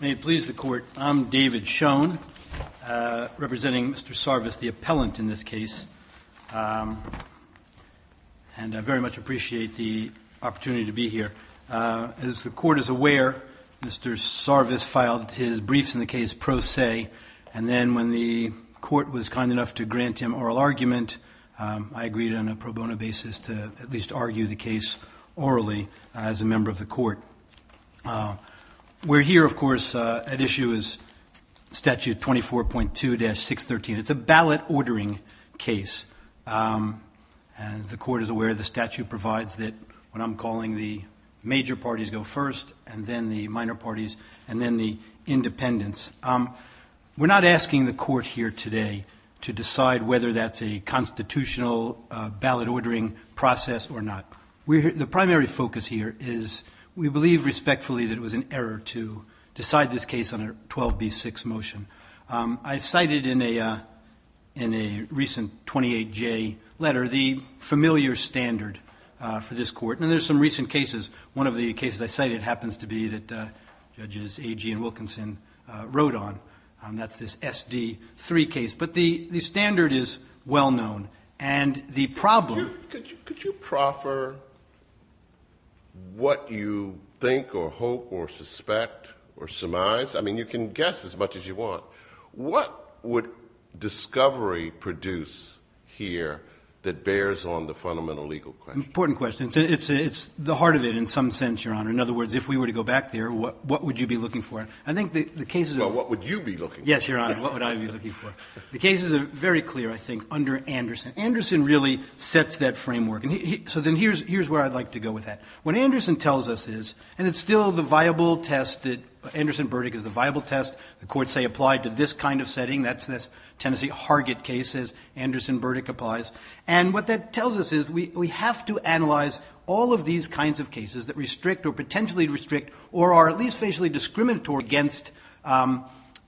May it please the Court, I'm David Schoen, representing Mr. Sarvis, the appellant in this case, and I very much appreciate the opportunity to be here. As the Court is aware, Mr. Sarvis filed his briefs in the case pro se, and then when the Court was kind enough to grant him oral argument, I agreed on a pro bono basis to at least argue the case orally as a member of the Court. We're here, of course, at issue is Statute 24.2-613. It's a ballot ordering case. As the Court is aware, the statute provides that when I'm calling, the major parties go first and then the minor parties and then the independents. We're not asking the Court here today to decide whether that's a constitutional ballot ordering process or not. The primary focus here is we believe respectfully that it was an error to decide this case under 12b-6 motion. I cited in a recent 28J letter the familiar standard for this Court, and there's some recent cases. One of the cases I cited happens to be that Judges Agee and Wilkinson wrote on. That's this SD3 case, but the standard is well known, and the problem Could you proffer what you think or hope or suspect or surmise? I mean, you can guess as much as you want. What would discovery produce here that bears on the fundamental legal question? Important question. It's the heart of it in some sense, Your Honor. In other words, if we were to go back there, what would you be looking for? Well, what would you be looking for? Yes, Your Honor, what would I be looking for? The cases are very clear, I think, under Anderson. Anderson really sets that framework. So then here's where I'd like to go with that. What Anderson tells us is, and it's still the viable test that Anderson-Burdick is the viable test. The courts say apply to this kind of setting. That's this Tennessee Hargett case, as Anderson-Burdick applies. And what that tells us is we have to analyze all of these kinds of cases that restrict or potentially restrict or are at least facially discriminatory against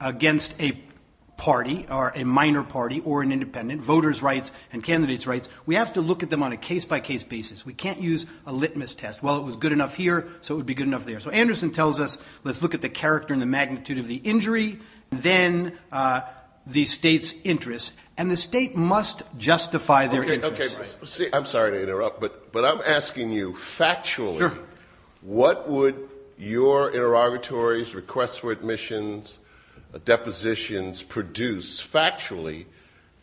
a party or a minor party or an independent, voters' rights and candidates' rights. We have to look at them on a case-by-case basis. We can't use a litmus test. Well, it was good enough here, so it would be good enough there. So Anderson tells us let's look at the character and the magnitude of the injury, then the state's interest. And the state must justify their interest. I'm sorry to interrupt, but I'm asking you factually what would your interrogatories, requests for admissions, depositions produce factually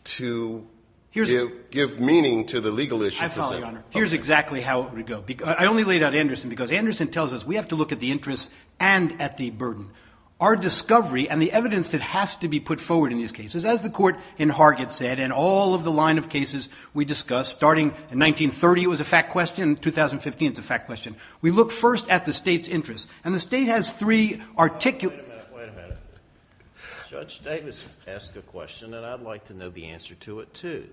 to give meaning to the legal issue? I follow, Your Honor. Here's exactly how it would go. I only laid out Anderson because Anderson tells us we have to look at the interest and at the burden. Our discovery and the evidence that has to be put forward in these cases, as the court in Hargett said and all of the line of cases we discussed starting in 1930 was a fact question, 2015 is a fact question, we look first at the state's interest. And the state has three articulate... Wait a minute, wait a minute. Judge Davis asked a question, and I'd like to know the answer to it, too.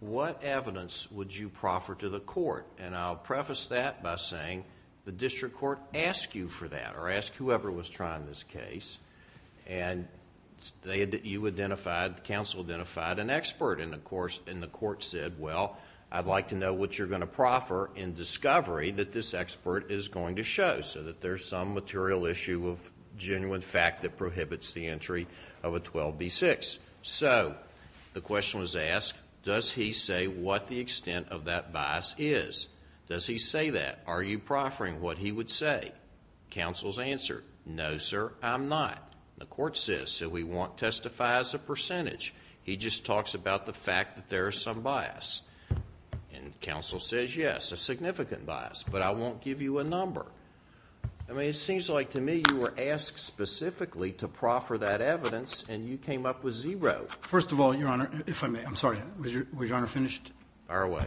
What evidence would you proffer to the court? And I'll preface that by saying the district court asked you for that or asked whoever was trying this case. And you identified, the counsel identified, an expert. And, of course, the court said, well, I'd like to know what you're going to proffer in discovery that this expert is going to show so that there's some material issue of genuine fact that prohibits the entry of a 12b-6. So the question was asked, does he say what the extent of that bias is? Does he say that? Are you proffering what he would say? Counsel's answer, no, sir, I'm not. The court says, so we won't testify as a percentage. He just talks about the fact that there is some bias. And counsel says, yes, a significant bias, but I won't give you a number. I mean, it seems like to me you were asked specifically to proffer that evidence, and you came up with zero. First of all, Your Honor, if I may, I'm sorry, was Your Honor finished? Fire away.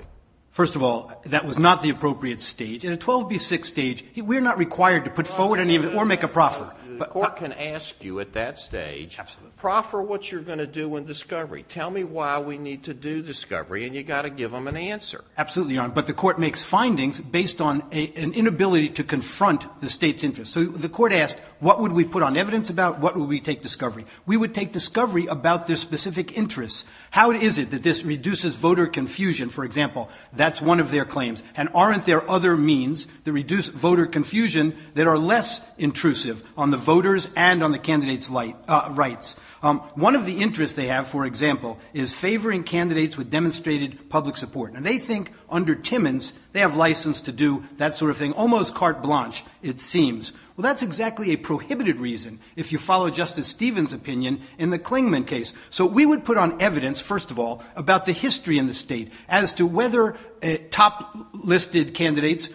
First of all, that was not the appropriate stage. In a 12b-6 stage, we're not required to put forward or make a proffer. The court can ask you at that stage, proffer what you're going to do in discovery. Tell me why we need to do discovery, and you've got to give them an answer. Absolutely, Your Honor. But the court makes findings based on an inability to confront the State's interest. So the court asked, what would we put on evidence about? What would we take discovery? We would take discovery about their specific interests. How is it that this reduces voter confusion? For example, that's one of their claims. And aren't there other means to reduce voter confusion that are less intrusive on the voters and on the candidate's rights? One of the interests they have, for example, is favoring candidates with demonstrated public support. And they think, under Timmons, they have license to do that sort of thing, almost carte blanche, it seems. Well, that's exactly a prohibited reason, if you follow Justice Stevens' opinion in the Klingman case. So we would put on evidence, first of all, about the history in the State, as to whether top-listed candidates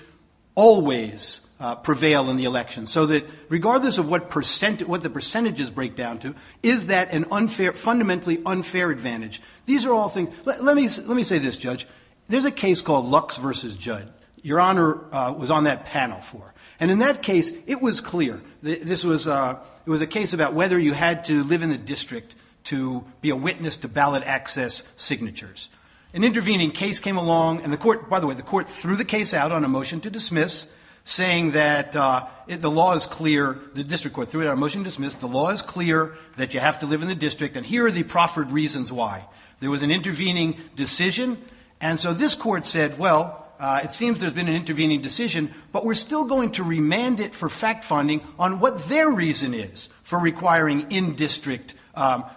always prevail in the election. So that regardless of what the percentages break down to, is that a fundamentally unfair advantage? Let me say this, Judge. There's a case called Lux v. Judd. Your Honor was on that panel for it. And in that case, it was clear. It was a case about whether you had to live in the district to be a witness to ballot access signatures. An intervening case came along, and by the way, the court threw the case out on a motion to dismiss, saying that the law is clear. The district court threw it out on a motion to dismiss. The law is clear that you have to live in the district, and here are the proffered reasons why. There was an intervening decision, and so this court said, well, it seems there's been an intervening decision, but we're still going to remand it for fact-finding on what their reason is for requiring in-district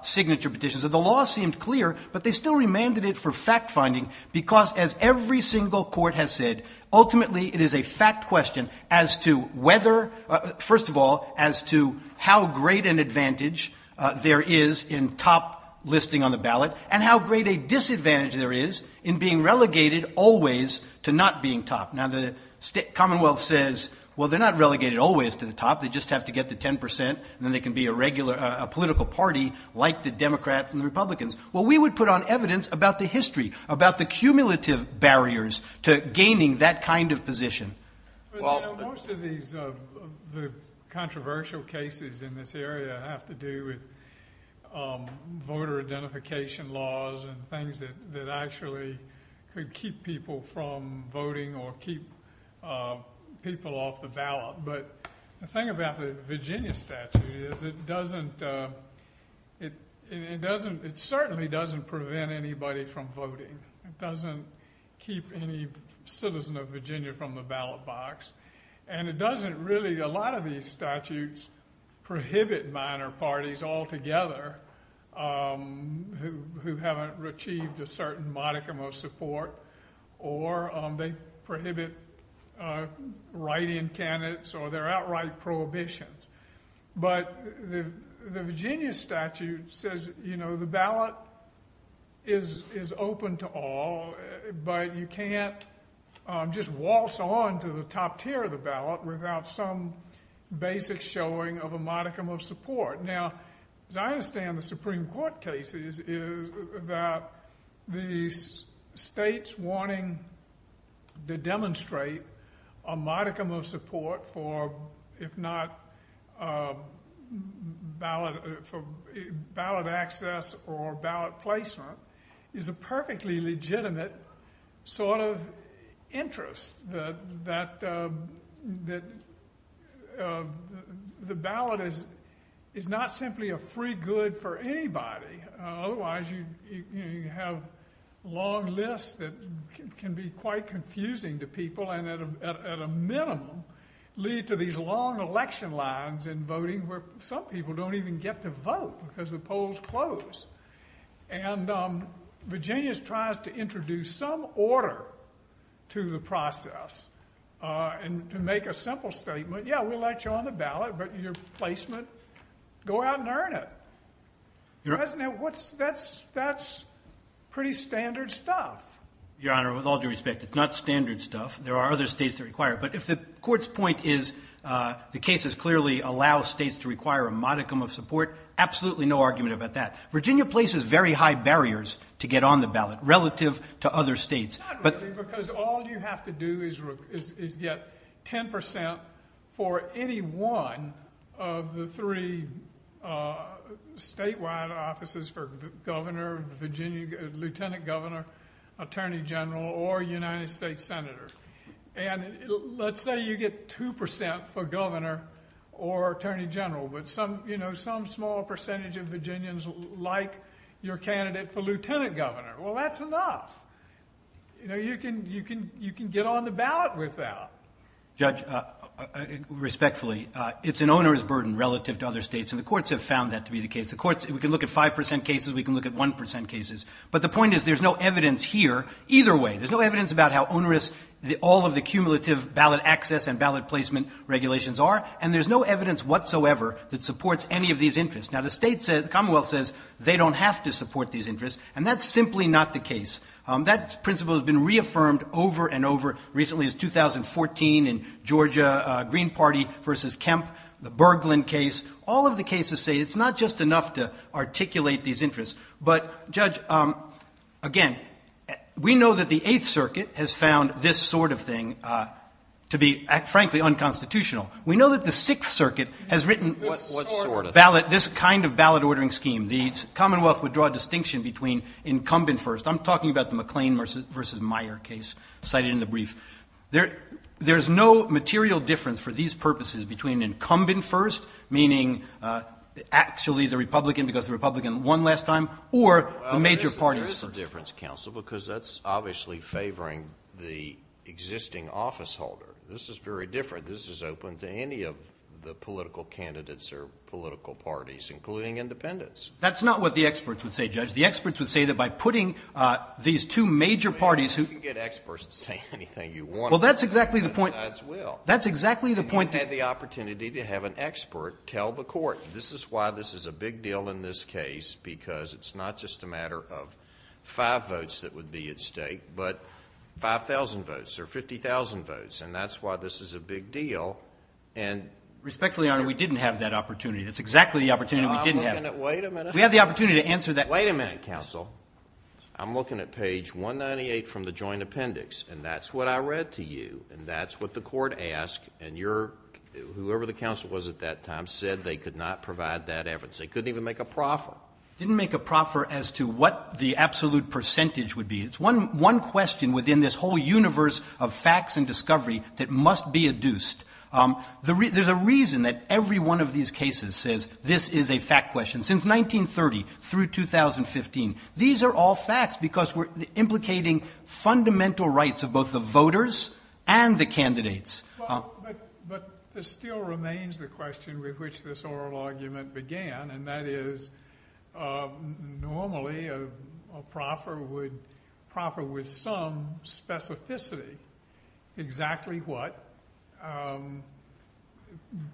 signature petitions. So the law seemed clear, but they still remanded it for fact-finding, because, as every single court has said, ultimately it is a fact question as to whether, first of all, as to how great an advantage there is in top-listing on the ballot and how great a disadvantage there is in being relegated always to not being top. Now, the Commonwealth says, well, they're not relegated always to the top. They just have to get to 10%, and then they can be a regular political party like the Democrats and the Republicans. Well, we would put on evidence about the history, about the cumulative barriers to gaining that kind of position. Well, most of the controversial cases in this area have to do with voter identification laws and things that actually could keep people from voting or keep people off the ballot. But the thing about the Virginia statute is it certainly doesn't prevent anybody from voting. It doesn't keep any citizen of Virginia from the ballot box. And it doesn't really, a lot of these statutes, prohibit minor parties altogether who haven't achieved a certain modicum of support, or they prohibit write-in candidates, or there are outright prohibitions. But the Virginia statute says the ballot is open to all, but you can't just waltz on to the top tier of the ballot without some basic showing of a modicum of support. Now, as I understand the Supreme Court cases, is that the states wanting to demonstrate a modicum of support for, if not, ballot access or ballot placement, is a perfectly legitimate sort of interest, that the ballot is not simply a free good for anybody. Otherwise, you have long lists that can be quite confusing to people, and at a minimum, lead to these long election lines in voting where some people don't even get to vote because the polls close. And Virginia tries to introduce some order to the process to make a simple statement, yeah, we'll let you on the ballot, but your placement, go out and earn it. That's pretty standard stuff. Your Honor, with all due respect, it's not standard stuff. There are other states that require it. But if the Court's point is the cases clearly allow states to require a modicum of support, absolutely no argument about that. Virginia places very high barriers to get on the ballot relative to other states. Not really, because all you have to do is get 10% for any one of the three statewide offices for governor, lieutenant governor, attorney general, or United States senator. And let's say you get 2% for governor or attorney general, but some small percentage of Virginians like your candidate for lieutenant governor. Well, that's enough. You can get on the ballot with that. Judge, respectfully, it's an onerous burden relative to other states, and the courts have found that to be the case. We can look at 5% cases. We can look at 1% cases. But the point is there's no evidence here either way. There's no evidence about how onerous all of the cumulative ballot access and ballot placement regulations are, and there's no evidence whatsoever that supports any of these interests. Now, the state says, the Commonwealth says, they don't have to support these interests, and that's simply not the case. That principle has been reaffirmed over and over. Recently, it's 2014 in Georgia, Green Party v. Kemp, the Bergland case. All of the cases say it's not just enough to articulate these interests. But, Judge, again, we know that the 8th Circuit has found this sort of thing to be, frankly, unconstitutional. We know that the 6th Circuit has written this kind of ballot ordering scheme. The Commonwealth would draw a distinction between incumbent first. I'm talking about the McLean v. Meyer case cited in the brief. There's no material difference for these purposes between incumbent first, meaning actually the Republican, because the Republican won last time, or the major parties first. Well, there is a difference, Counsel, because that's obviously favoring the existing office holder. This is very different. This is open to any of the political candidates or political parties, including independents. That's not what the experts would say, Judge. The experts would say that by putting these two major parties who... You can get experts to say anything you want. Well, that's exactly the point. That's will. That's exactly the point that... You had the opportunity to have an expert tell the Court, this is why this is a big deal in this case, because it's not just a matter of five votes that would be at stake, but 5,000 votes or 50,000 votes, and that's why this is a big deal. Respectfully, Your Honor, we didn't have that opportunity. That's exactly the opportunity we didn't have. Wait a minute. We had the opportunity to answer that... Wait a minute, Counsel. I'm looking at page 198 from the joint appendix, and that's what I read to you, and that's what the Court asked, and whoever the Counsel was at that time said they could not provide that evidence. They couldn't even make a proffer. Didn't make a proffer as to what the absolute percentage would be. It's one question within this whole universe of facts and discovery that must be adduced. There's a reason that every one of these cases says this is a fact question. Since 1930 through 2015, these are all facts because we're implicating fundamental rights of both the voters and the candidates. But there still remains the question with which this oral argument began, and that is normally a proffer would proffer with some specificity exactly what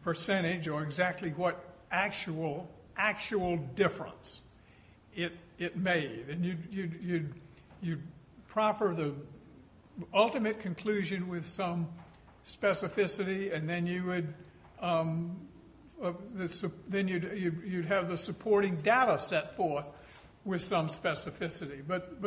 percentage or exactly what actual difference it made. You'd proffer the ultimate conclusion with some specificity, and then you'd have the supporting data set forth with some specificity. But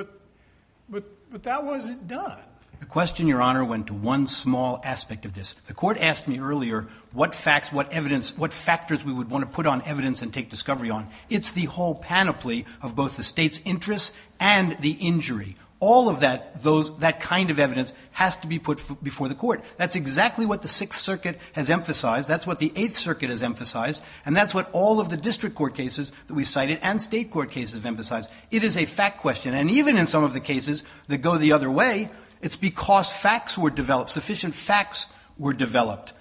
that wasn't done. The question, Your Honor, went to one small aspect of this. The Court asked me earlier what facts, what factors we would want to put on evidence and take discovery on. It's the whole panoply of both the State's interests and the injury. All of that kind of evidence has to be put before the Court. That's exactly what the Sixth Circuit has emphasized. That's what the Eighth Circuit has emphasized. And that's what all of the district court cases that we cited and state court cases have emphasized. It is a fact question. And even in some of the cases that go the other way, it's because facts were developed, sufficient facts were developed.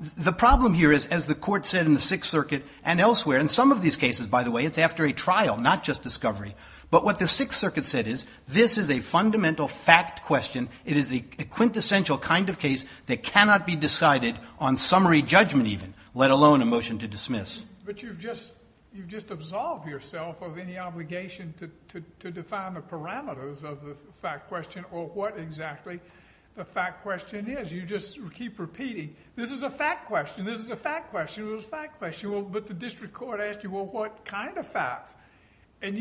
The problem here is, as the Court said in the Sixth Circuit and elsewhere, in some of these cases, by the way, it's after a trial, not just discovery. But what the Sixth Circuit said is, this is a fundamental fact question. It is the quintessential kind of case that cannot be decided on summary judgment even, let alone a motion to dismiss. But you've just absolved yourself of any obligation to define the parameters of the fact question or what exactly the fact question is. You just keep repeating, this is a fact question. This is a fact question. It was a fact question. But the district court asked you, well, what kind of facts? And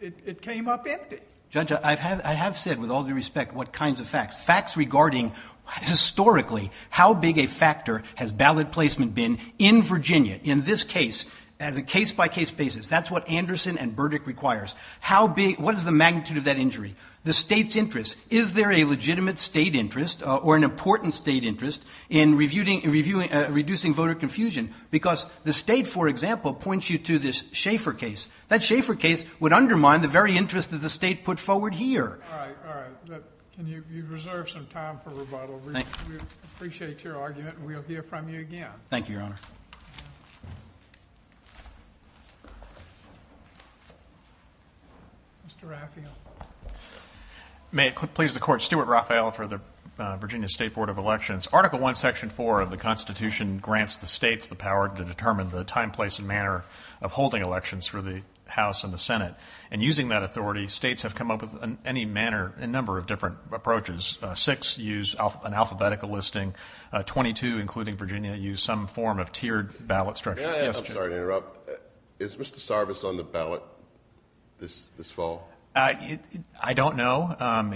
it came up empty. Judge, I have said, with all due respect, what kinds of facts? Facts regarding, historically, how big a factor has ballot placement been in Virginia? In this case, as a case-by-case basis, that's what Anderson and Burdick requires. What is the magnitude of that injury? The state's interest. Is there a legitimate state interest or an important state interest in reducing voter confusion? Because the state, for example, points you to this Schaeffer case. That Schaeffer case would undermine the very interest that the state put forward here. All right, all right. You've reserved some time for rebuttal. We appreciate your argument, and we'll hear from you again. Thank you, Your Honor. Mr. Raphael. May it please the Court, Stuart Raphael for the Virginia State Board of Elections. Article I, Section 4 of the Constitution grants the states the power to determine the time, place, and manner of holding elections for the House and the Senate. And using that authority, states have come up with any manner, a number of different approaches. Six use an alphabetical listing. Twenty-two, including Virginia, use some form of tiered ballot structure. May I? I'm sorry to interrupt. Is Mr. Sarvis on the ballot this fall? I don't know.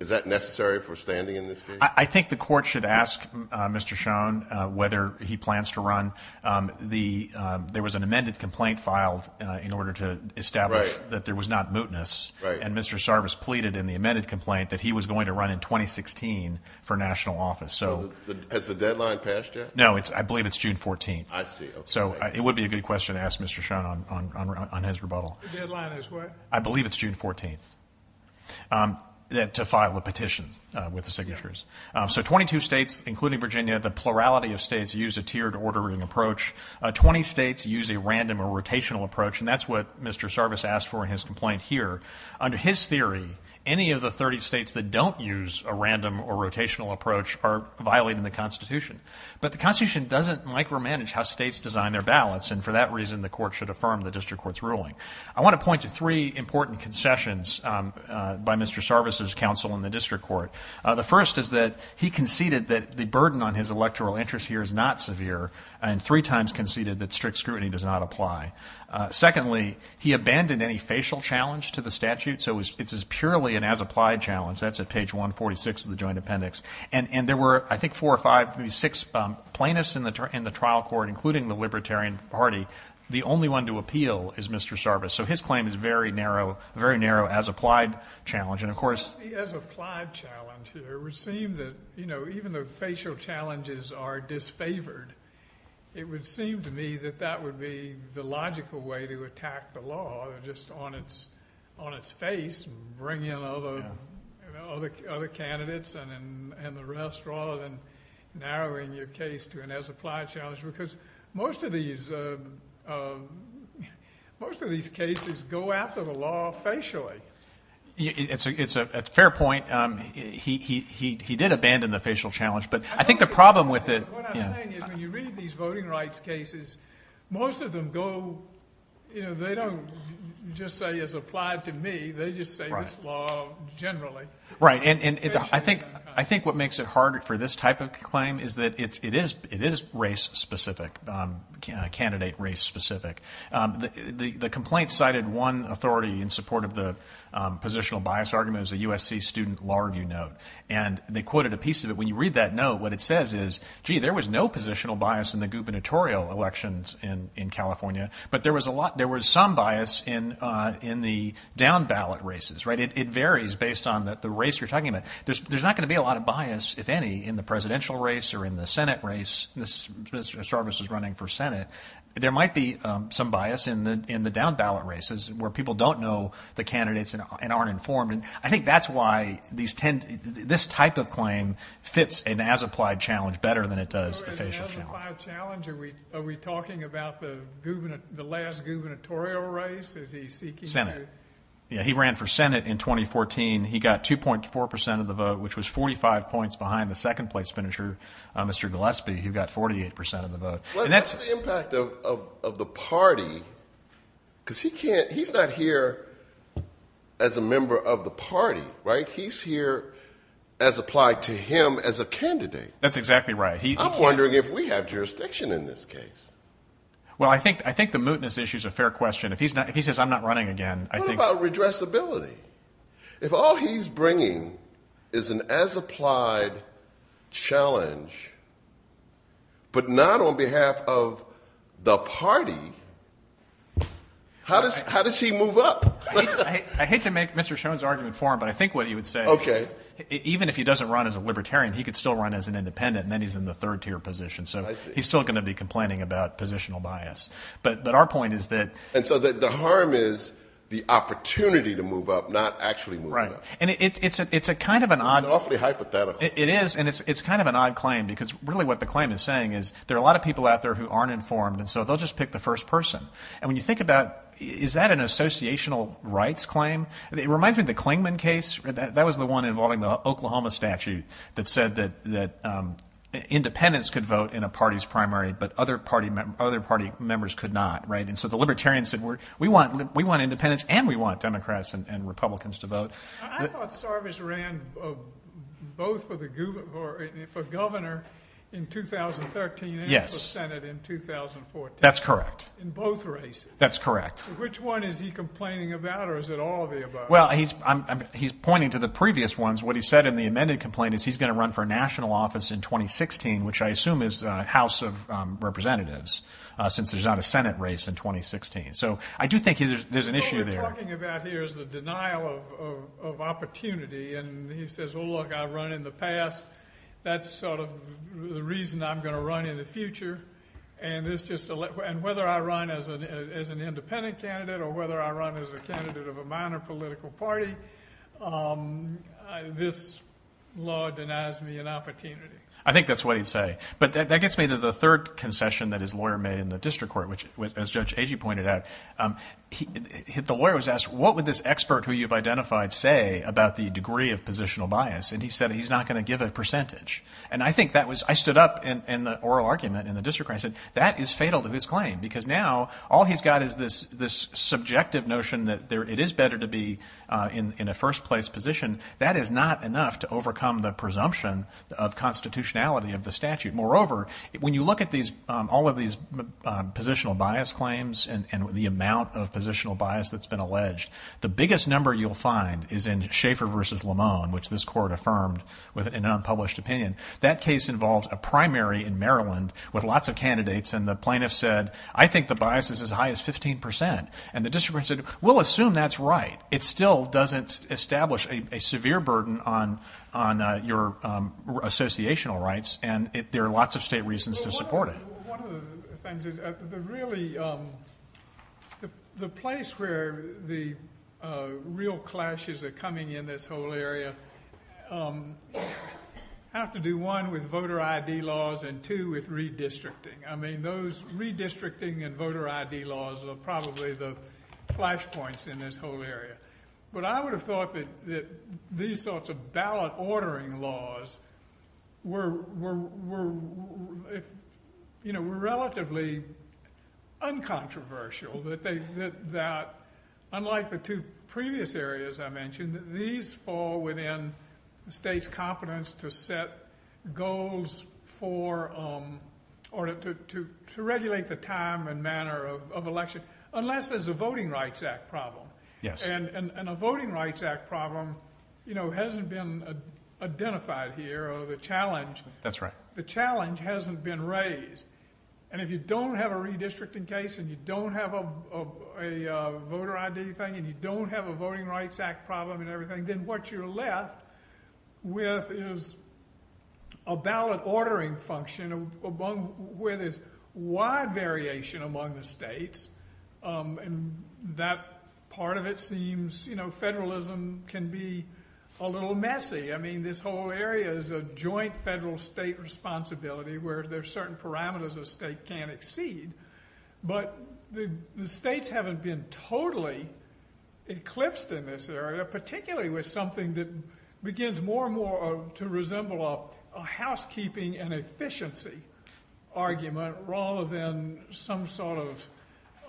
Isn't that necessary for standing in this case? I think the Court should ask Mr. Schoen whether he plans to run. There was an amended complaint filed in order to establish that there was not mootness, and Mr. Sarvis pleaded in the amended complaint that he was going to run in 2016 for national office. Has the deadline passed yet? No, I believe it's June 14th. I see. So it would be a good question to ask Mr. Schoen on his rebuttal. The deadline is what? I believe it's June 14th to file a petition with the signatures. So 22 states, including Virginia, the plurality of states use a tiered ordering approach. Twenty states use a random or rotational approach, and that's what Mr. Sarvis asked for in his complaint here. Under his theory, any of the 30 states that don't use a random or rotational approach are violating the Constitution. But the Constitution doesn't micromanage how states design their ballots, and for that reason the Court should affirm the district court's ruling. I want to point to three important concessions by Mr. Sarvis's counsel in the district court. The first is that he conceded that the burden on his electoral interest here is not severe and three times conceded that strict scrutiny does not apply. Secondly, he abandoned any facial challenge to the statute, so it's purely an as-applied challenge. That's at page 146 of the Joint Appendix. And there were, I think, four or five, maybe six plaintiffs in the trial court, including the Libertarian Party. The only one to appeal is Mr. Sarvis, so his claim is a very narrow as-applied challenge. And of course... The as-applied challenge here would seem that, you know, even though facial challenges are disfavored, it would seem to me that that would be the logical way to attack the law, just on its face, bring in other candidates and the rest rather than narrowing your case to an as-applied challenge because most of these cases go after the law facially. It's a fair point. He did abandon the facial challenge, but I think the problem with it... What I'm saying is when you read these voting rights cases, most of them go... You know, they don't just say as-applied to me. They just say this law generally. Right, and I think what makes it harder for this type of claim is that it is race-specific, candidate race-specific. The complaint cited one authority in support of the positional bias argument as a USC student law review note, and they quoted a piece of it. When you read that note, what it says is, gee, there was no positional bias in the gubernatorial elections in California, but there was some bias in the down-ballot races, right? It varies based on the race you're talking about. There's not going to be a lot of bias, if any, in the presidential race or in the Senate race. Sarvis is running for Senate. There might be some bias in the down-ballot races where people don't know the candidates and aren't informed, and I think that's why this type of claim fits an as-applied challenge better than it does a facial challenge. Are we talking about the last gubernatorial race? Senate. Yeah, he ran for Senate in 2014. He got 2.4% of the vote, which was 45 points behind the second-place finisher, Mr. Gillespie. He got 48% of the vote. Well, that's the impact of the party, because he's not here as a member of the party, right? He's here as applied to him as a candidate. That's exactly right. I'm wondering if we have jurisdiction in this case. Well, I think the mootness issue is a fair question. If he says, I'm not running again, I think... What about redressability? If all he's bringing is an as-applied challenge, but not on behalf of the party, how does he move up? I hate to make Mr. Schoen's argument for him, but I think what he would say is even if he doesn't run as a libertarian, he could still run as an independent, and then he's in the third-tier position. So he's still going to be complaining about positional bias. But our point is that... And so the harm is the opportunity to move up, not actually moving up. Right, and it's a kind of an odd... It's awfully hypothetical. It is, and it's kind of an odd claim, because really what the claim is saying is there are a lot of people out there who aren't informed, and so they'll just pick the first person. And when you think about, is that an associational rights claim? It reminds me of the Clingman case. That was the one involving the Oklahoma statute that said that independents could vote in a party's primary, but other party members could not. And so the libertarians said, we want independents and we want Democrats and Republicans to vote. I thought Sarvaj ran both for governor in 2013 and for Senate in 2014. That's correct. In both races. That's correct. Which one is he complaining about, or is it all of the above? Well, he's pointing to the previous ones. What he said in the amended complaint is he's going to run for national office in 2016, which I assume is House of Representatives, since there's not a Senate race in 2016. So I do think there's an issue there. What he's talking about here is the denial of opportunity, and he says, oh, look, I've run in the past, that's sort of the reason I'm going to run in the future, and whether I run as an independent candidate or whether I run as a candidate of a minor political party, this law denies me an opportunity. I think that's what he'd say. But that gets me to the third concession that his lawyer made in the district court, which, as Judge Agee pointed out, the lawyer was asked, what would this expert who you've identified say about the degree of positional bias? And he said he's not going to give a percentage. And I think that was – I stood up in the oral argument in the district court and I said that is fatal to his claim, because now all he's got is this subjective notion that it is better to be in a first place position. That is not enough to overcome the presumption of constitutionality of the statute. Moreover, when you look at all of these positional bias claims and the amount of positional bias that's been alleged, the biggest number you'll find is in Schaeffer v. Lamone, which this court affirmed with an unpublished opinion. That case involved a primary in Maryland with lots of candidates, and the plaintiff said, I think the bias is as high as 15 percent. And the district court said, we'll assume that's right. It still doesn't establish a severe burden on your associational rights, and there are lots of state reasons to support it. One of the things is really the place where the real clashes are coming in this whole area have to do, one, with voter ID laws and, two, with redistricting. I mean those redistricting and voter ID laws are probably the flashpoints in this whole area. But I would have thought that these sorts of ballot ordering laws were relatively uncontroversial, that unlike the two previous areas I mentioned, these fall within the state's competence to set goals for or to regulate the time and manner of election, unless there's a Voting Rights Act problem. And a Voting Rights Act problem hasn't been identified here, or the challenge hasn't been raised. And if you don't have a redistricting case and you don't have a voter ID thing and you don't have a Voting Rights Act problem and everything, then what you're left with is a ballot ordering function where there's wide variation among the states, and that part of it seems, you know, federalism can be a little messy. I mean this whole area is a joint federal-state responsibility where there's certain parameters a state can't exceed. But the states haven't been totally eclipsed in this area, particularly with something that begins more and more to resemble a housekeeping and efficiency argument rather than some sort of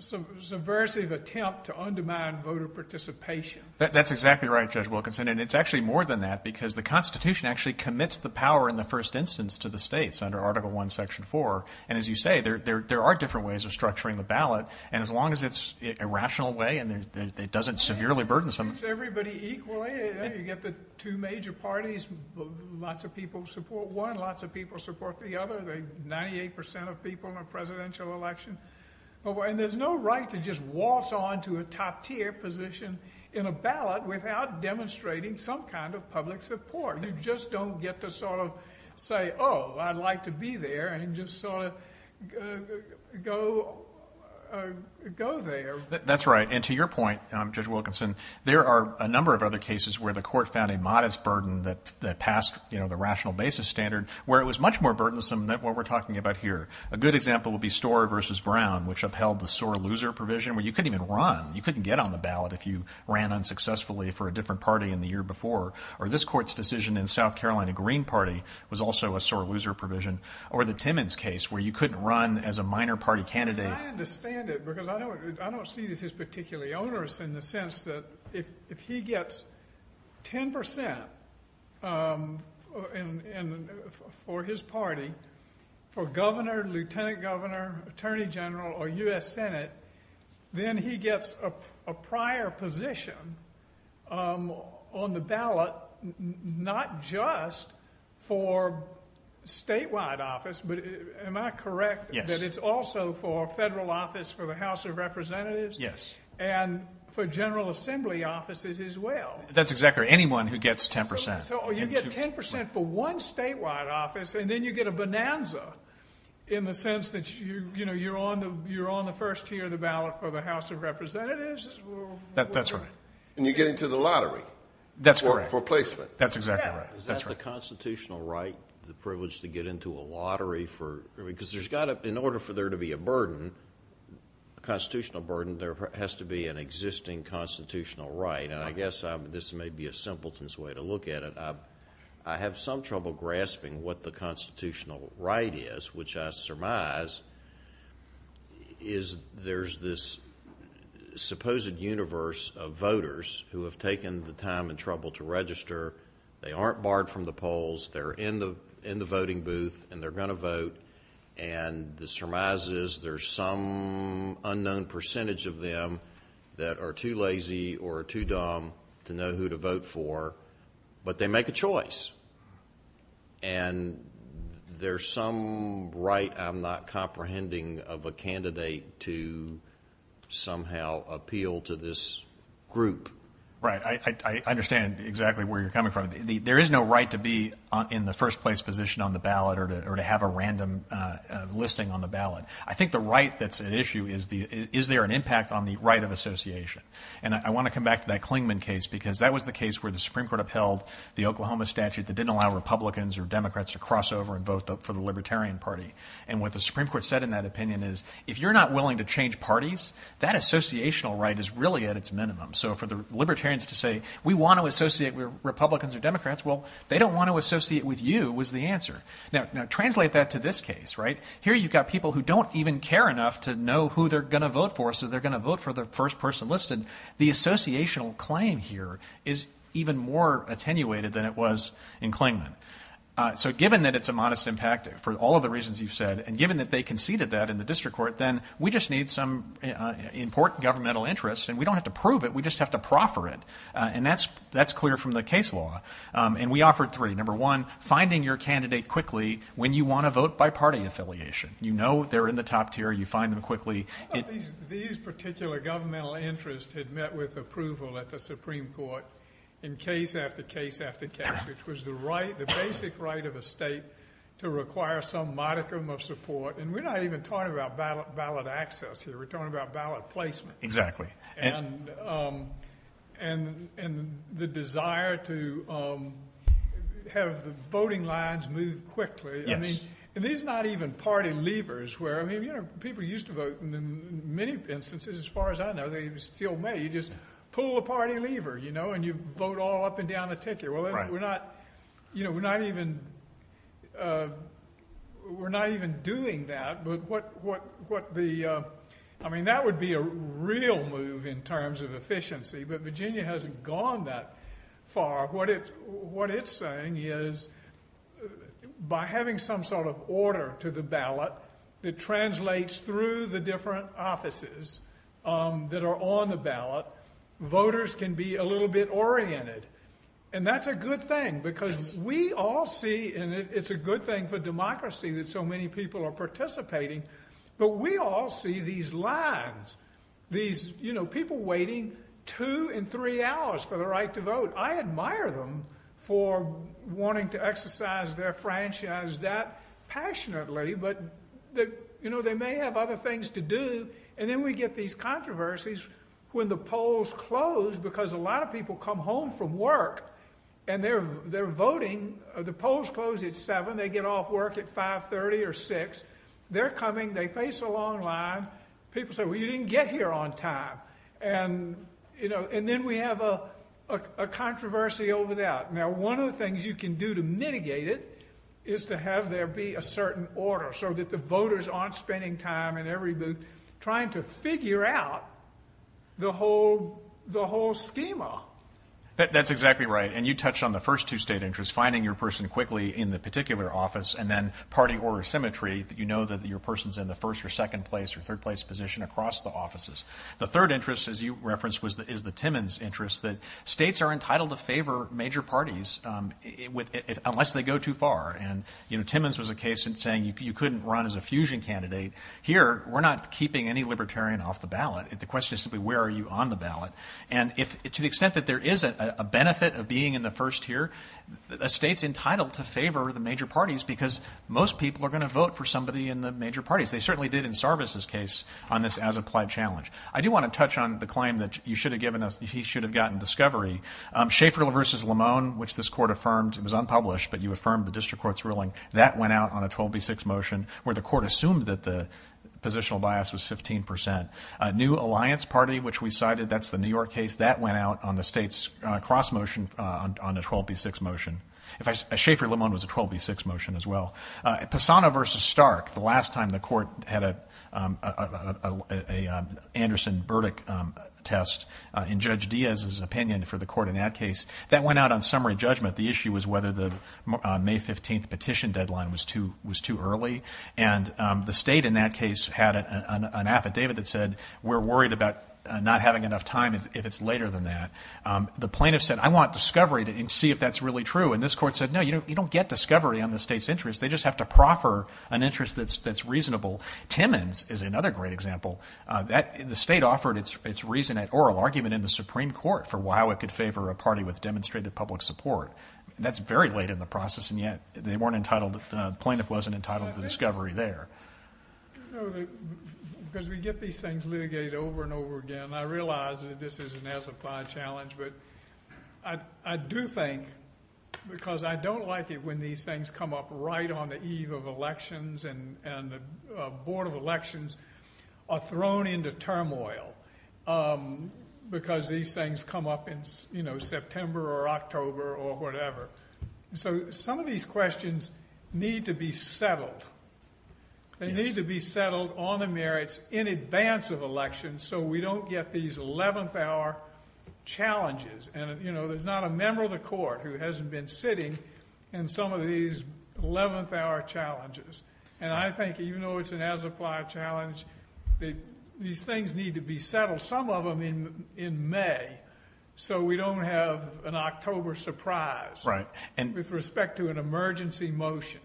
subversive attempt to undermine voter participation. That's exactly right, Judge Wilkinson, and it's actually more than that because the Constitution actually commits the power in the first instance to the states under Article I, Section 4. And as you say, there are different ways of structuring the ballot, and as long as it's a rational way and it doesn't severely burden some— You get the two major parties, lots of people support one, lots of people support the other, 98% of people in a presidential election. And there's no right to just waltz on to a top-tier position in a ballot without demonstrating some kind of public support. You just don't get to sort of say, oh, I'd like to be there and just sort of go there. That's right, and to your point, Judge Wilkinson, there are a number of other cases where the court found a modest burden that passed the rational basis standard where it was much more burdensome than what we're talking about here. A good example would be Storer v. Brown, which upheld the sore loser provision where you couldn't even run. You couldn't get on the ballot if you ran unsuccessfully for a different party in the year before. Or this court's decision in South Carolina Green Party was also a sore loser provision. Or the Timmons case where you couldn't run as a minor party candidate. I understand it because I don't see this as particularly onerous in the sense that if he gets 10% for his party, for governor, lieutenant governor, attorney general, or U.S. Senate, then he gets a prior position on the ballot not just for statewide office, but am I correct that it's also for federal office for the House of Representatives? Yes. And for general assembly offices as well? That's exactly right. Anyone who gets 10%. So you get 10% for one statewide office and then you get a bonanza in the sense that you're on the first tier of the ballot for the House of Representatives? That's right. And you get into the lottery. That's correct. For placement. That's exactly right. Is that the constitutional right, the privilege to get into a lottery? Because in order for there to be a burden, a constitutional burden, there has to be an existing constitutional right. And I guess this may be a simpleton's way to look at it. I have some trouble grasping what the constitutional right is, which I surmise is there's this supposed universe of voters who have taken the time and trouble to register. They aren't barred from the polls. They're in the voting booth and they're going to vote. And this surmises there's some unknown percentage of them that are too lazy or too dumb to know who to vote for, but they make a choice. And there's some right I'm not comprehending of a candidate to somehow appeal to this group. Right. I understand exactly where you're coming from. There is no right to be in the first place position on the ballot or to have a random listing on the ballot. I think the right that's at issue is there an impact on the right of association. And I want to come back to that Clingman case because that was the case where the Supreme Court upheld the Oklahoma statute that didn't allow Republicans or Democrats to cross over and vote for the Libertarian Party. And what the Supreme Court said in that opinion is if you're not willing to change parties, that associational right is really at its minimum. So for the Libertarians to say we want to associate with Republicans or Democrats, well, they don't want to associate with you was the answer. Now translate that to this case. Right. Here you've got people who don't even care enough to know who they're going to vote for, so they're going to vote for the first person listed. The associational claim here is even more attenuated than it was in Clingman. So given that it's a modest impact for all of the reasons you've said and given that they conceded that in the district court, then we just need some important governmental interest and we don't have to prove it. We just have to proffer it. And that's clear from the case law. And we offered three. Number one, finding your candidate quickly when you want to vote by party affiliation. You know they're in the top tier. You find them quickly. These particular governmental interests had met with approval at the Supreme Court in case after case after case, which was the basic right of a state to require some modicum of support. And we're not even talking about ballot access here. We're talking about ballot placement. Exactly. And the desire to have the voting lines move quickly. Yes. And these are not even party levers. People used to vote in many instances. As far as I know, they still may. You just pull a party lever, you know, and you vote all up and down the ticket. We're not even doing that. I mean that would be a real move in terms of efficiency, but Virginia hasn't gone that far. What it's saying is by having some sort of order to the ballot that translates through the different offices that are on the ballot, voters can be a little bit oriented. And that's a good thing because we all see, and it's a good thing for democracy that so many people are participating, but we all see these lines, these, you know, people waiting two and three hours for the right to vote. I admire them for wanting to exercise their franchise that passionately, but, you know, they may have other things to do. And then we get these controversies when the polls close because a lot of people come home from work and they're voting. The polls close at 7. They get off work at 5.30 or 6. They're coming. They face a long line. People say, well, you didn't get here on time. And, you know, and then we have a controversy over that. Now, one of the things you can do to mitigate it is to have there be a certain order so that the voters aren't spending time in every booth trying to figure out the whole schema. That's exactly right. And you touched on the first two state interests, finding your person quickly in the particular office, and then party order symmetry, that you know that your person's in the first or second place or third place position across the offices. The third interest, as you referenced, is the Timmons interest, that states are entitled to favor major parties unless they go too far. And, you know, Timmons was a case in saying you couldn't run as a fusion candidate. Here, we're not keeping any libertarian off the ballot. The question is simply where are you on the ballot. And to the extent that there is a benefit of being in the first tier, a state's entitled to favor the major parties because most people are going to vote for somebody in the major parties. They certainly did in Sarvis's case on this as-applied challenge. I do want to touch on the claim that you should have given us, he should have gotten discovery. Schaefer v. Limone, which this court affirmed, it was unpublished, but you affirmed the district court's ruling, that went out on a 12B6 motion where the court assumed that the positional bias was 15%. New Alliance Party, which we cited, that's the New York case, that went out on the state's cross motion on a 12B6 motion. Schaefer-Limone was a 12B6 motion as well. Pisano v. Stark, the last time the court had an Anderson verdict test in Judge Diaz's opinion for the court in that case, that went out on summary judgment. The issue was whether the May 15th petition deadline was too early. And the state in that case had an affidavit that said, we're worried about not having enough time if it's later than that. The plaintiff said, I want discovery to see if that's really true. And this court said, no, you don't get discovery on the state's interest. They just have to proffer an interest that's reasonable. Timmons is another great example. The state offered its reason at oral argument in the Supreme Court for how it could favor a party with demonstrated public support. That's very late in the process, and yet they weren't entitled, the plaintiff wasn't entitled to discovery there. Because we get these things litigated over and over again. I realize that this is an as-applied challenge, but I do think, because I don't like it when these things come up right on the eve of elections, and the Board of Elections are thrown into turmoil because these things come up in September or October or whatever. So some of these questions need to be settled. They need to be settled on the merits in advance of election so we don't get these eleventh-hour challenges. And, you know, there's not a member of the court who hasn't been sitting in some of these eleventh-hour challenges. And I think even though it's an as-applied challenge, these things need to be settled, some of them in May, so we don't have an October surprise with respect to an emergency motion.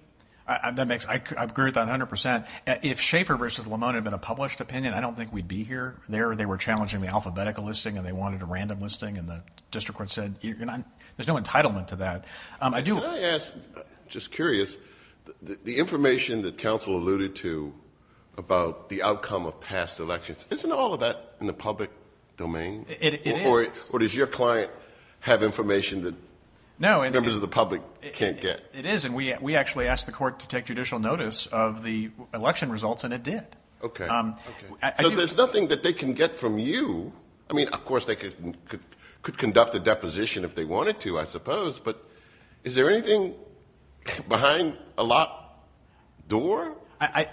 I agree with that 100%. If Schaefer v. Lamone had been a published opinion, I don't think we'd be here. They were challenging the alphabetical listing and they wanted a random listing, and the district court said there's no entitlement to that. Can I ask, just curious, the information that counsel alluded to about the outcome of past elections, isn't all of that in the public domain? It is. Or does your client have information that members of the public can't get? It is, and we actually asked the court to take judicial notice of the election results, and it did. Okay. So there's nothing that they can get from you? I mean, of course they could conduct a deposition if they wanted to, I suppose, but is there anything behind a locked door? I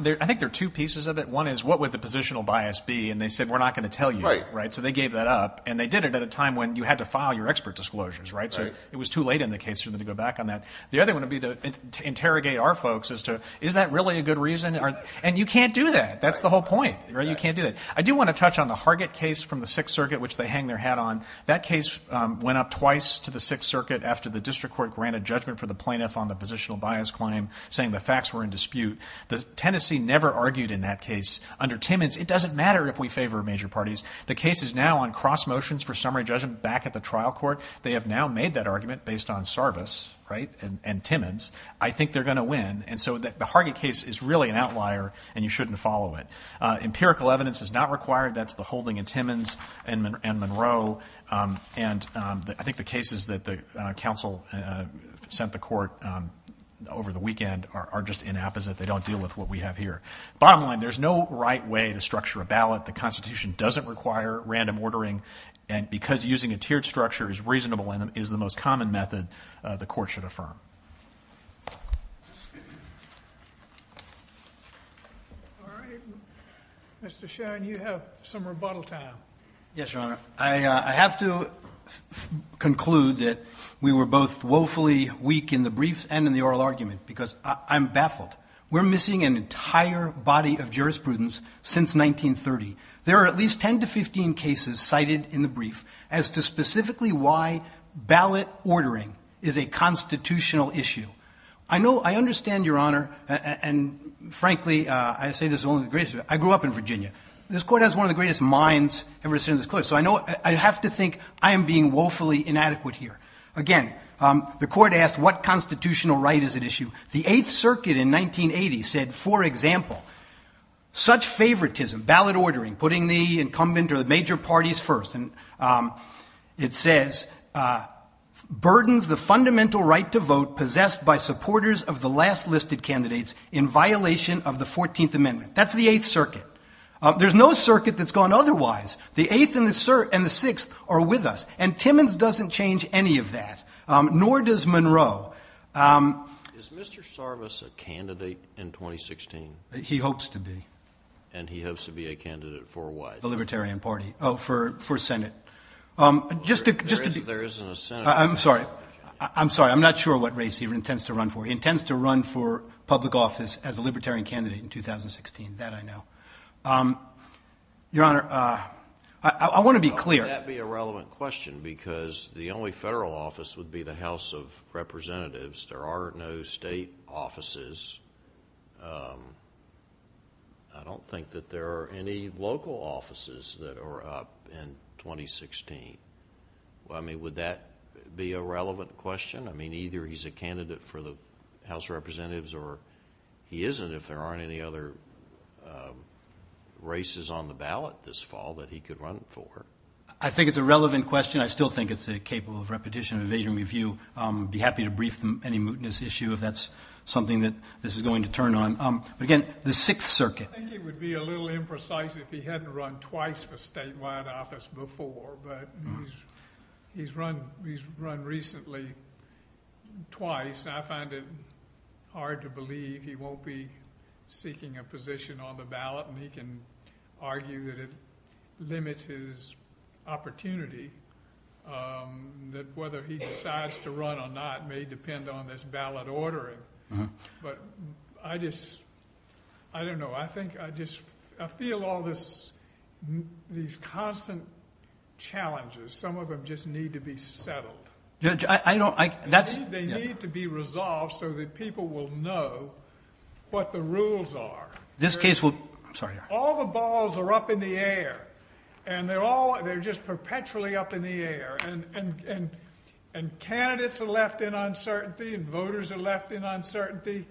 think there are two pieces of it. One is what would the positional bias be, and they said, we're not going to tell you, right? So they gave that up, and they did it at a time when you had to file your expert disclosures, right? So it was too late in the case for them to go back on that. The other one would be to interrogate our folks as to, is that really a good reason? And you can't do that. That's the whole point. You can't do that. I do want to touch on the Hargett case from the Sixth Circuit, which they hang their hat on. That case went up twice to the Sixth Circuit after the district court granted judgment for the plaintiff on the positional bias claim, saying the facts were in dispute. Tennessee never argued in that case. Under Timmons, it doesn't matter if we favor major parties. The case is now on cross motions for summary judgment back at the trial court. They have now made that argument based on service, right? And Timmons, I think they're going to win. And so the Hargett case is really an outlier, and you shouldn't follow it. Empirical evidence is not required. That's the holding in Timmons and Monroe. And I think the cases that the counsel sent the court over the weekend are just inapposite. They don't deal with what we have here. Bottom line, there's no right way to structure a ballot. The Constitution doesn't require random ordering. And because using a tiered structure is reasonable and is the most common method, the court should affirm. All right. Mr. Schoen, you have some rebuttal time. Yes, Your Honor. I have to conclude that we were both woefully weak in the briefs and in the oral argument because I'm baffled. We're missing an entire body of jurisprudence since 1930. There are at least 10 to 15 cases cited in the brief as to specifically why ballot ordering is a constitutional issue. I understand, Your Honor, and frankly, I say this only because I grew up in Virginia. This court has one of the greatest minds ever to sit in this court, so I have to think I am being woefully inadequate here. Again, the court asked what constitutional right is at issue. The Eighth Circuit in 1980 said, for example, such favoritism, ballot ordering, putting the incumbent or the major parties first, it says, burdens the fundamental right to vote possessed by supporters of the last listed candidates in violation of the 14th Amendment. That's the Eighth Circuit. There's no circuit that's gone otherwise. The Eighth and the Sixth are with us. And Timmons doesn't change any of that, nor does Monroe. Is Mr. Sarvis a candidate in 2016? He hopes to be. And he hopes to be a candidate for what? The Libertarian Party. Oh, for Senate. There isn't a Senate. I'm sorry. I'm sorry. I'm not sure what race he intends to run for. He intends to run for public office as a Libertarian candidate in 2016. That I know. Your Honor, I want to be clear. How could that be a relevant question? Because the only federal office would be the House of Representatives. There are no state offices. I don't think that there are any local offices that are up in 2016. I mean, would that be a relevant question? I mean, either he's a candidate for the House of Representatives, or he isn't if there aren't any other races on the ballot this fall that he could run for. I think it's a relevant question. I still think it's capable of repetition and evading review. I'd be happy to brief any mootness issue if that's something that this is going to turn on. But, again, the Sixth Circuit. I think it would be a little imprecise if he hadn't run twice for statewide office before, but he's run recently twice. I find it hard to believe he won't be seeking a position on the ballot, and he can argue that it limits his opportunity, that whether he decides to run or not may depend on this ballot ordering. I don't know. I feel all these constant challenges. Some of them just need to be settled. They need to be resolved so that people will know what the rules are. All the balls are up in the air, and they're just perpetually up in the air, and candidates are left in uncertainty and voters are left in uncertainty,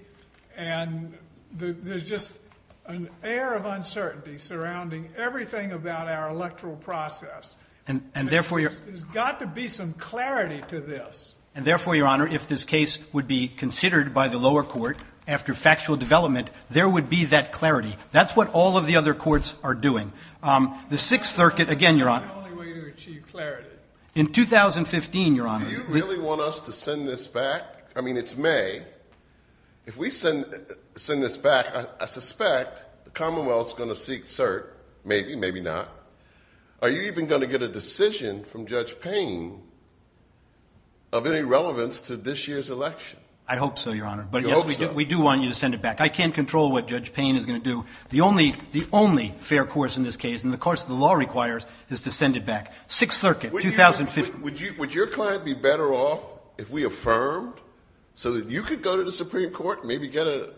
and there's just an air of uncertainty surrounding everything about our electoral process. There's got to be some clarity to this. Therefore, Your Honor, if this case would be considered by the lower court after factual development, there would be that clarity. That's what all of the other courts are doing. The Sixth Circuit, again, Your Honor. The only way to achieve clarity. In 2015, Your Honor. Do you really want us to send this back? I mean, it's May. If we send this back, I suspect the Commonwealth is going to seek cert, maybe, maybe not. Are you even going to get a decision from Judge Payne of any relevance to this year's election? I hope so, Your Honor. You hope so? But, yes, we do want you to send it back. I can't control what Judge Payne is going to do. The only fair course in this case, and the course the law requires, is to send it back. Sixth Circuit, 2015. Would your client be better off if we affirmed so that you could go to the Supreme Court and maybe get an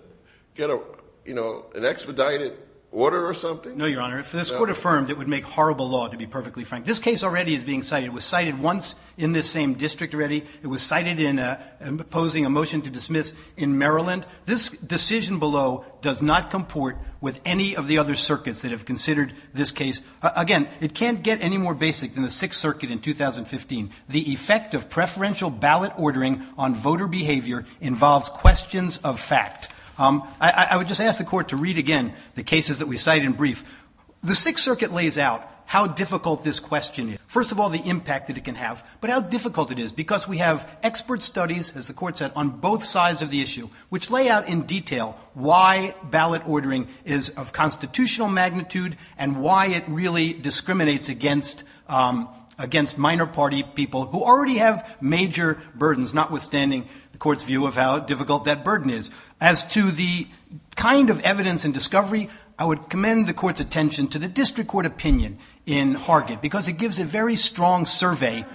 expedited order or something? No, Your Honor. If this court affirmed, it would make horrible law, to be perfectly frank. This case already is being cited. It was cited once in this same district already. It was cited in opposing a motion to dismiss in Maryland. This decision below does not comport with any of the other circuits that have considered this case. Again, it can't get any more basic than the Sixth Circuit in 2015. The effect of preferential ballot ordering on voter behavior involves questions of fact. I would just ask the court to read again the cases that we cite in brief. The Sixth Circuit lays out how difficult this question is. First of all, the impact that it can have, but how difficult it is because we have expert studies, as the court said, on both sides of the issue which lay out in detail why ballot ordering is of constitutional magnitude and why it really discriminates against minor party people who already have major burdens, notwithstanding the court's view of how difficult that burden is. As to the kind of evidence and discovery, I would commend the court's attention to the district court opinion in Hargett because it gives a very strong survey.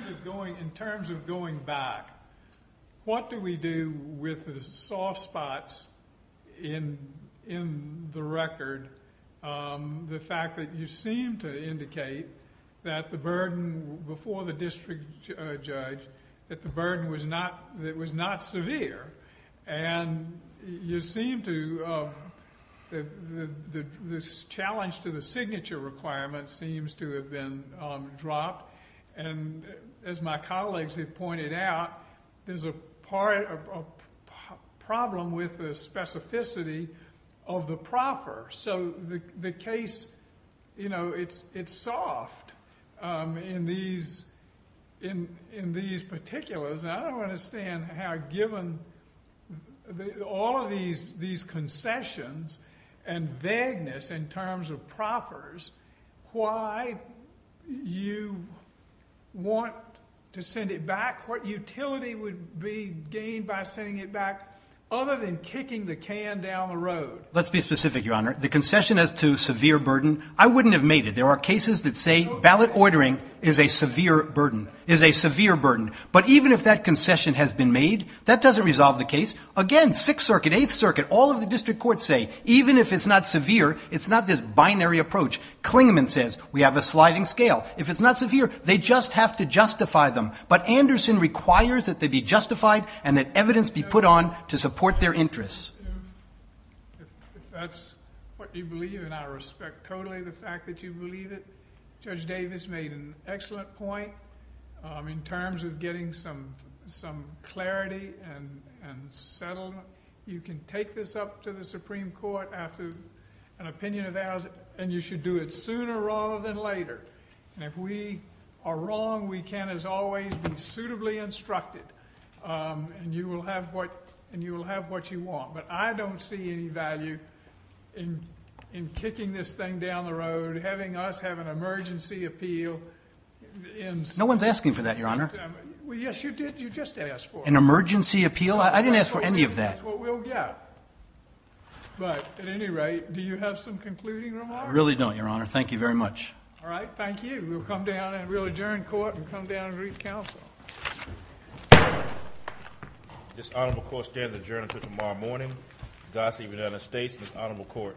In terms of going back, what do we do with the soft spots in the record? The fact that you seem to indicate that the burden before the district judge, that the burden was not severe, and the challenge to the signature requirement seems to have been dropped. As my colleagues have pointed out, there's a problem with the specificity of the proffer. The case, it's soft in these particulars. I don't understand how given all of these concessions and vagueness in terms of proffers, why you want to send it back. What utility would be gained by sending it back other than kicking the can down the road? Let's be specific, Your Honor. The concession as to severe burden, I wouldn't have made it. There are cases that say ballot ordering is a severe burden, is a severe burden. But even if that concession has been made, that doesn't resolve the case. Again, Sixth Circuit, Eighth Circuit, all of the district courts say, even if it's not severe, it's not this binary approach. Klingman says, we have a sliding scale. If it's not severe, they just have to justify them. But Anderson requires that they be justified and that evidence be put on to support their interests. If that's what you believe, and I respect totally the fact that you believe it, Judge Davis made an excellent point in terms of getting some clarity and settlement. You can take this up to the Supreme Court after an opinion of theirs, and you should do it sooner rather than later. And if we are wrong, we can, as always, be suitably instructed, and you will have what you want. But I don't see any value in kicking this thing down the road, having us have an emergency appeal in September. No one's asking for that, Your Honor. Well, yes, you did. You just asked for it. An emergency appeal? I didn't ask for any of that. That's what we'll get. But at any rate, do you have some concluding remarks? I really don't, Your Honor. Thank you very much. All right. Thank you. We'll come down and we'll adjourn court and come down and greet counsel. This honorable court stands adjourned until tomorrow morning. Gossie, United States, this honorable court.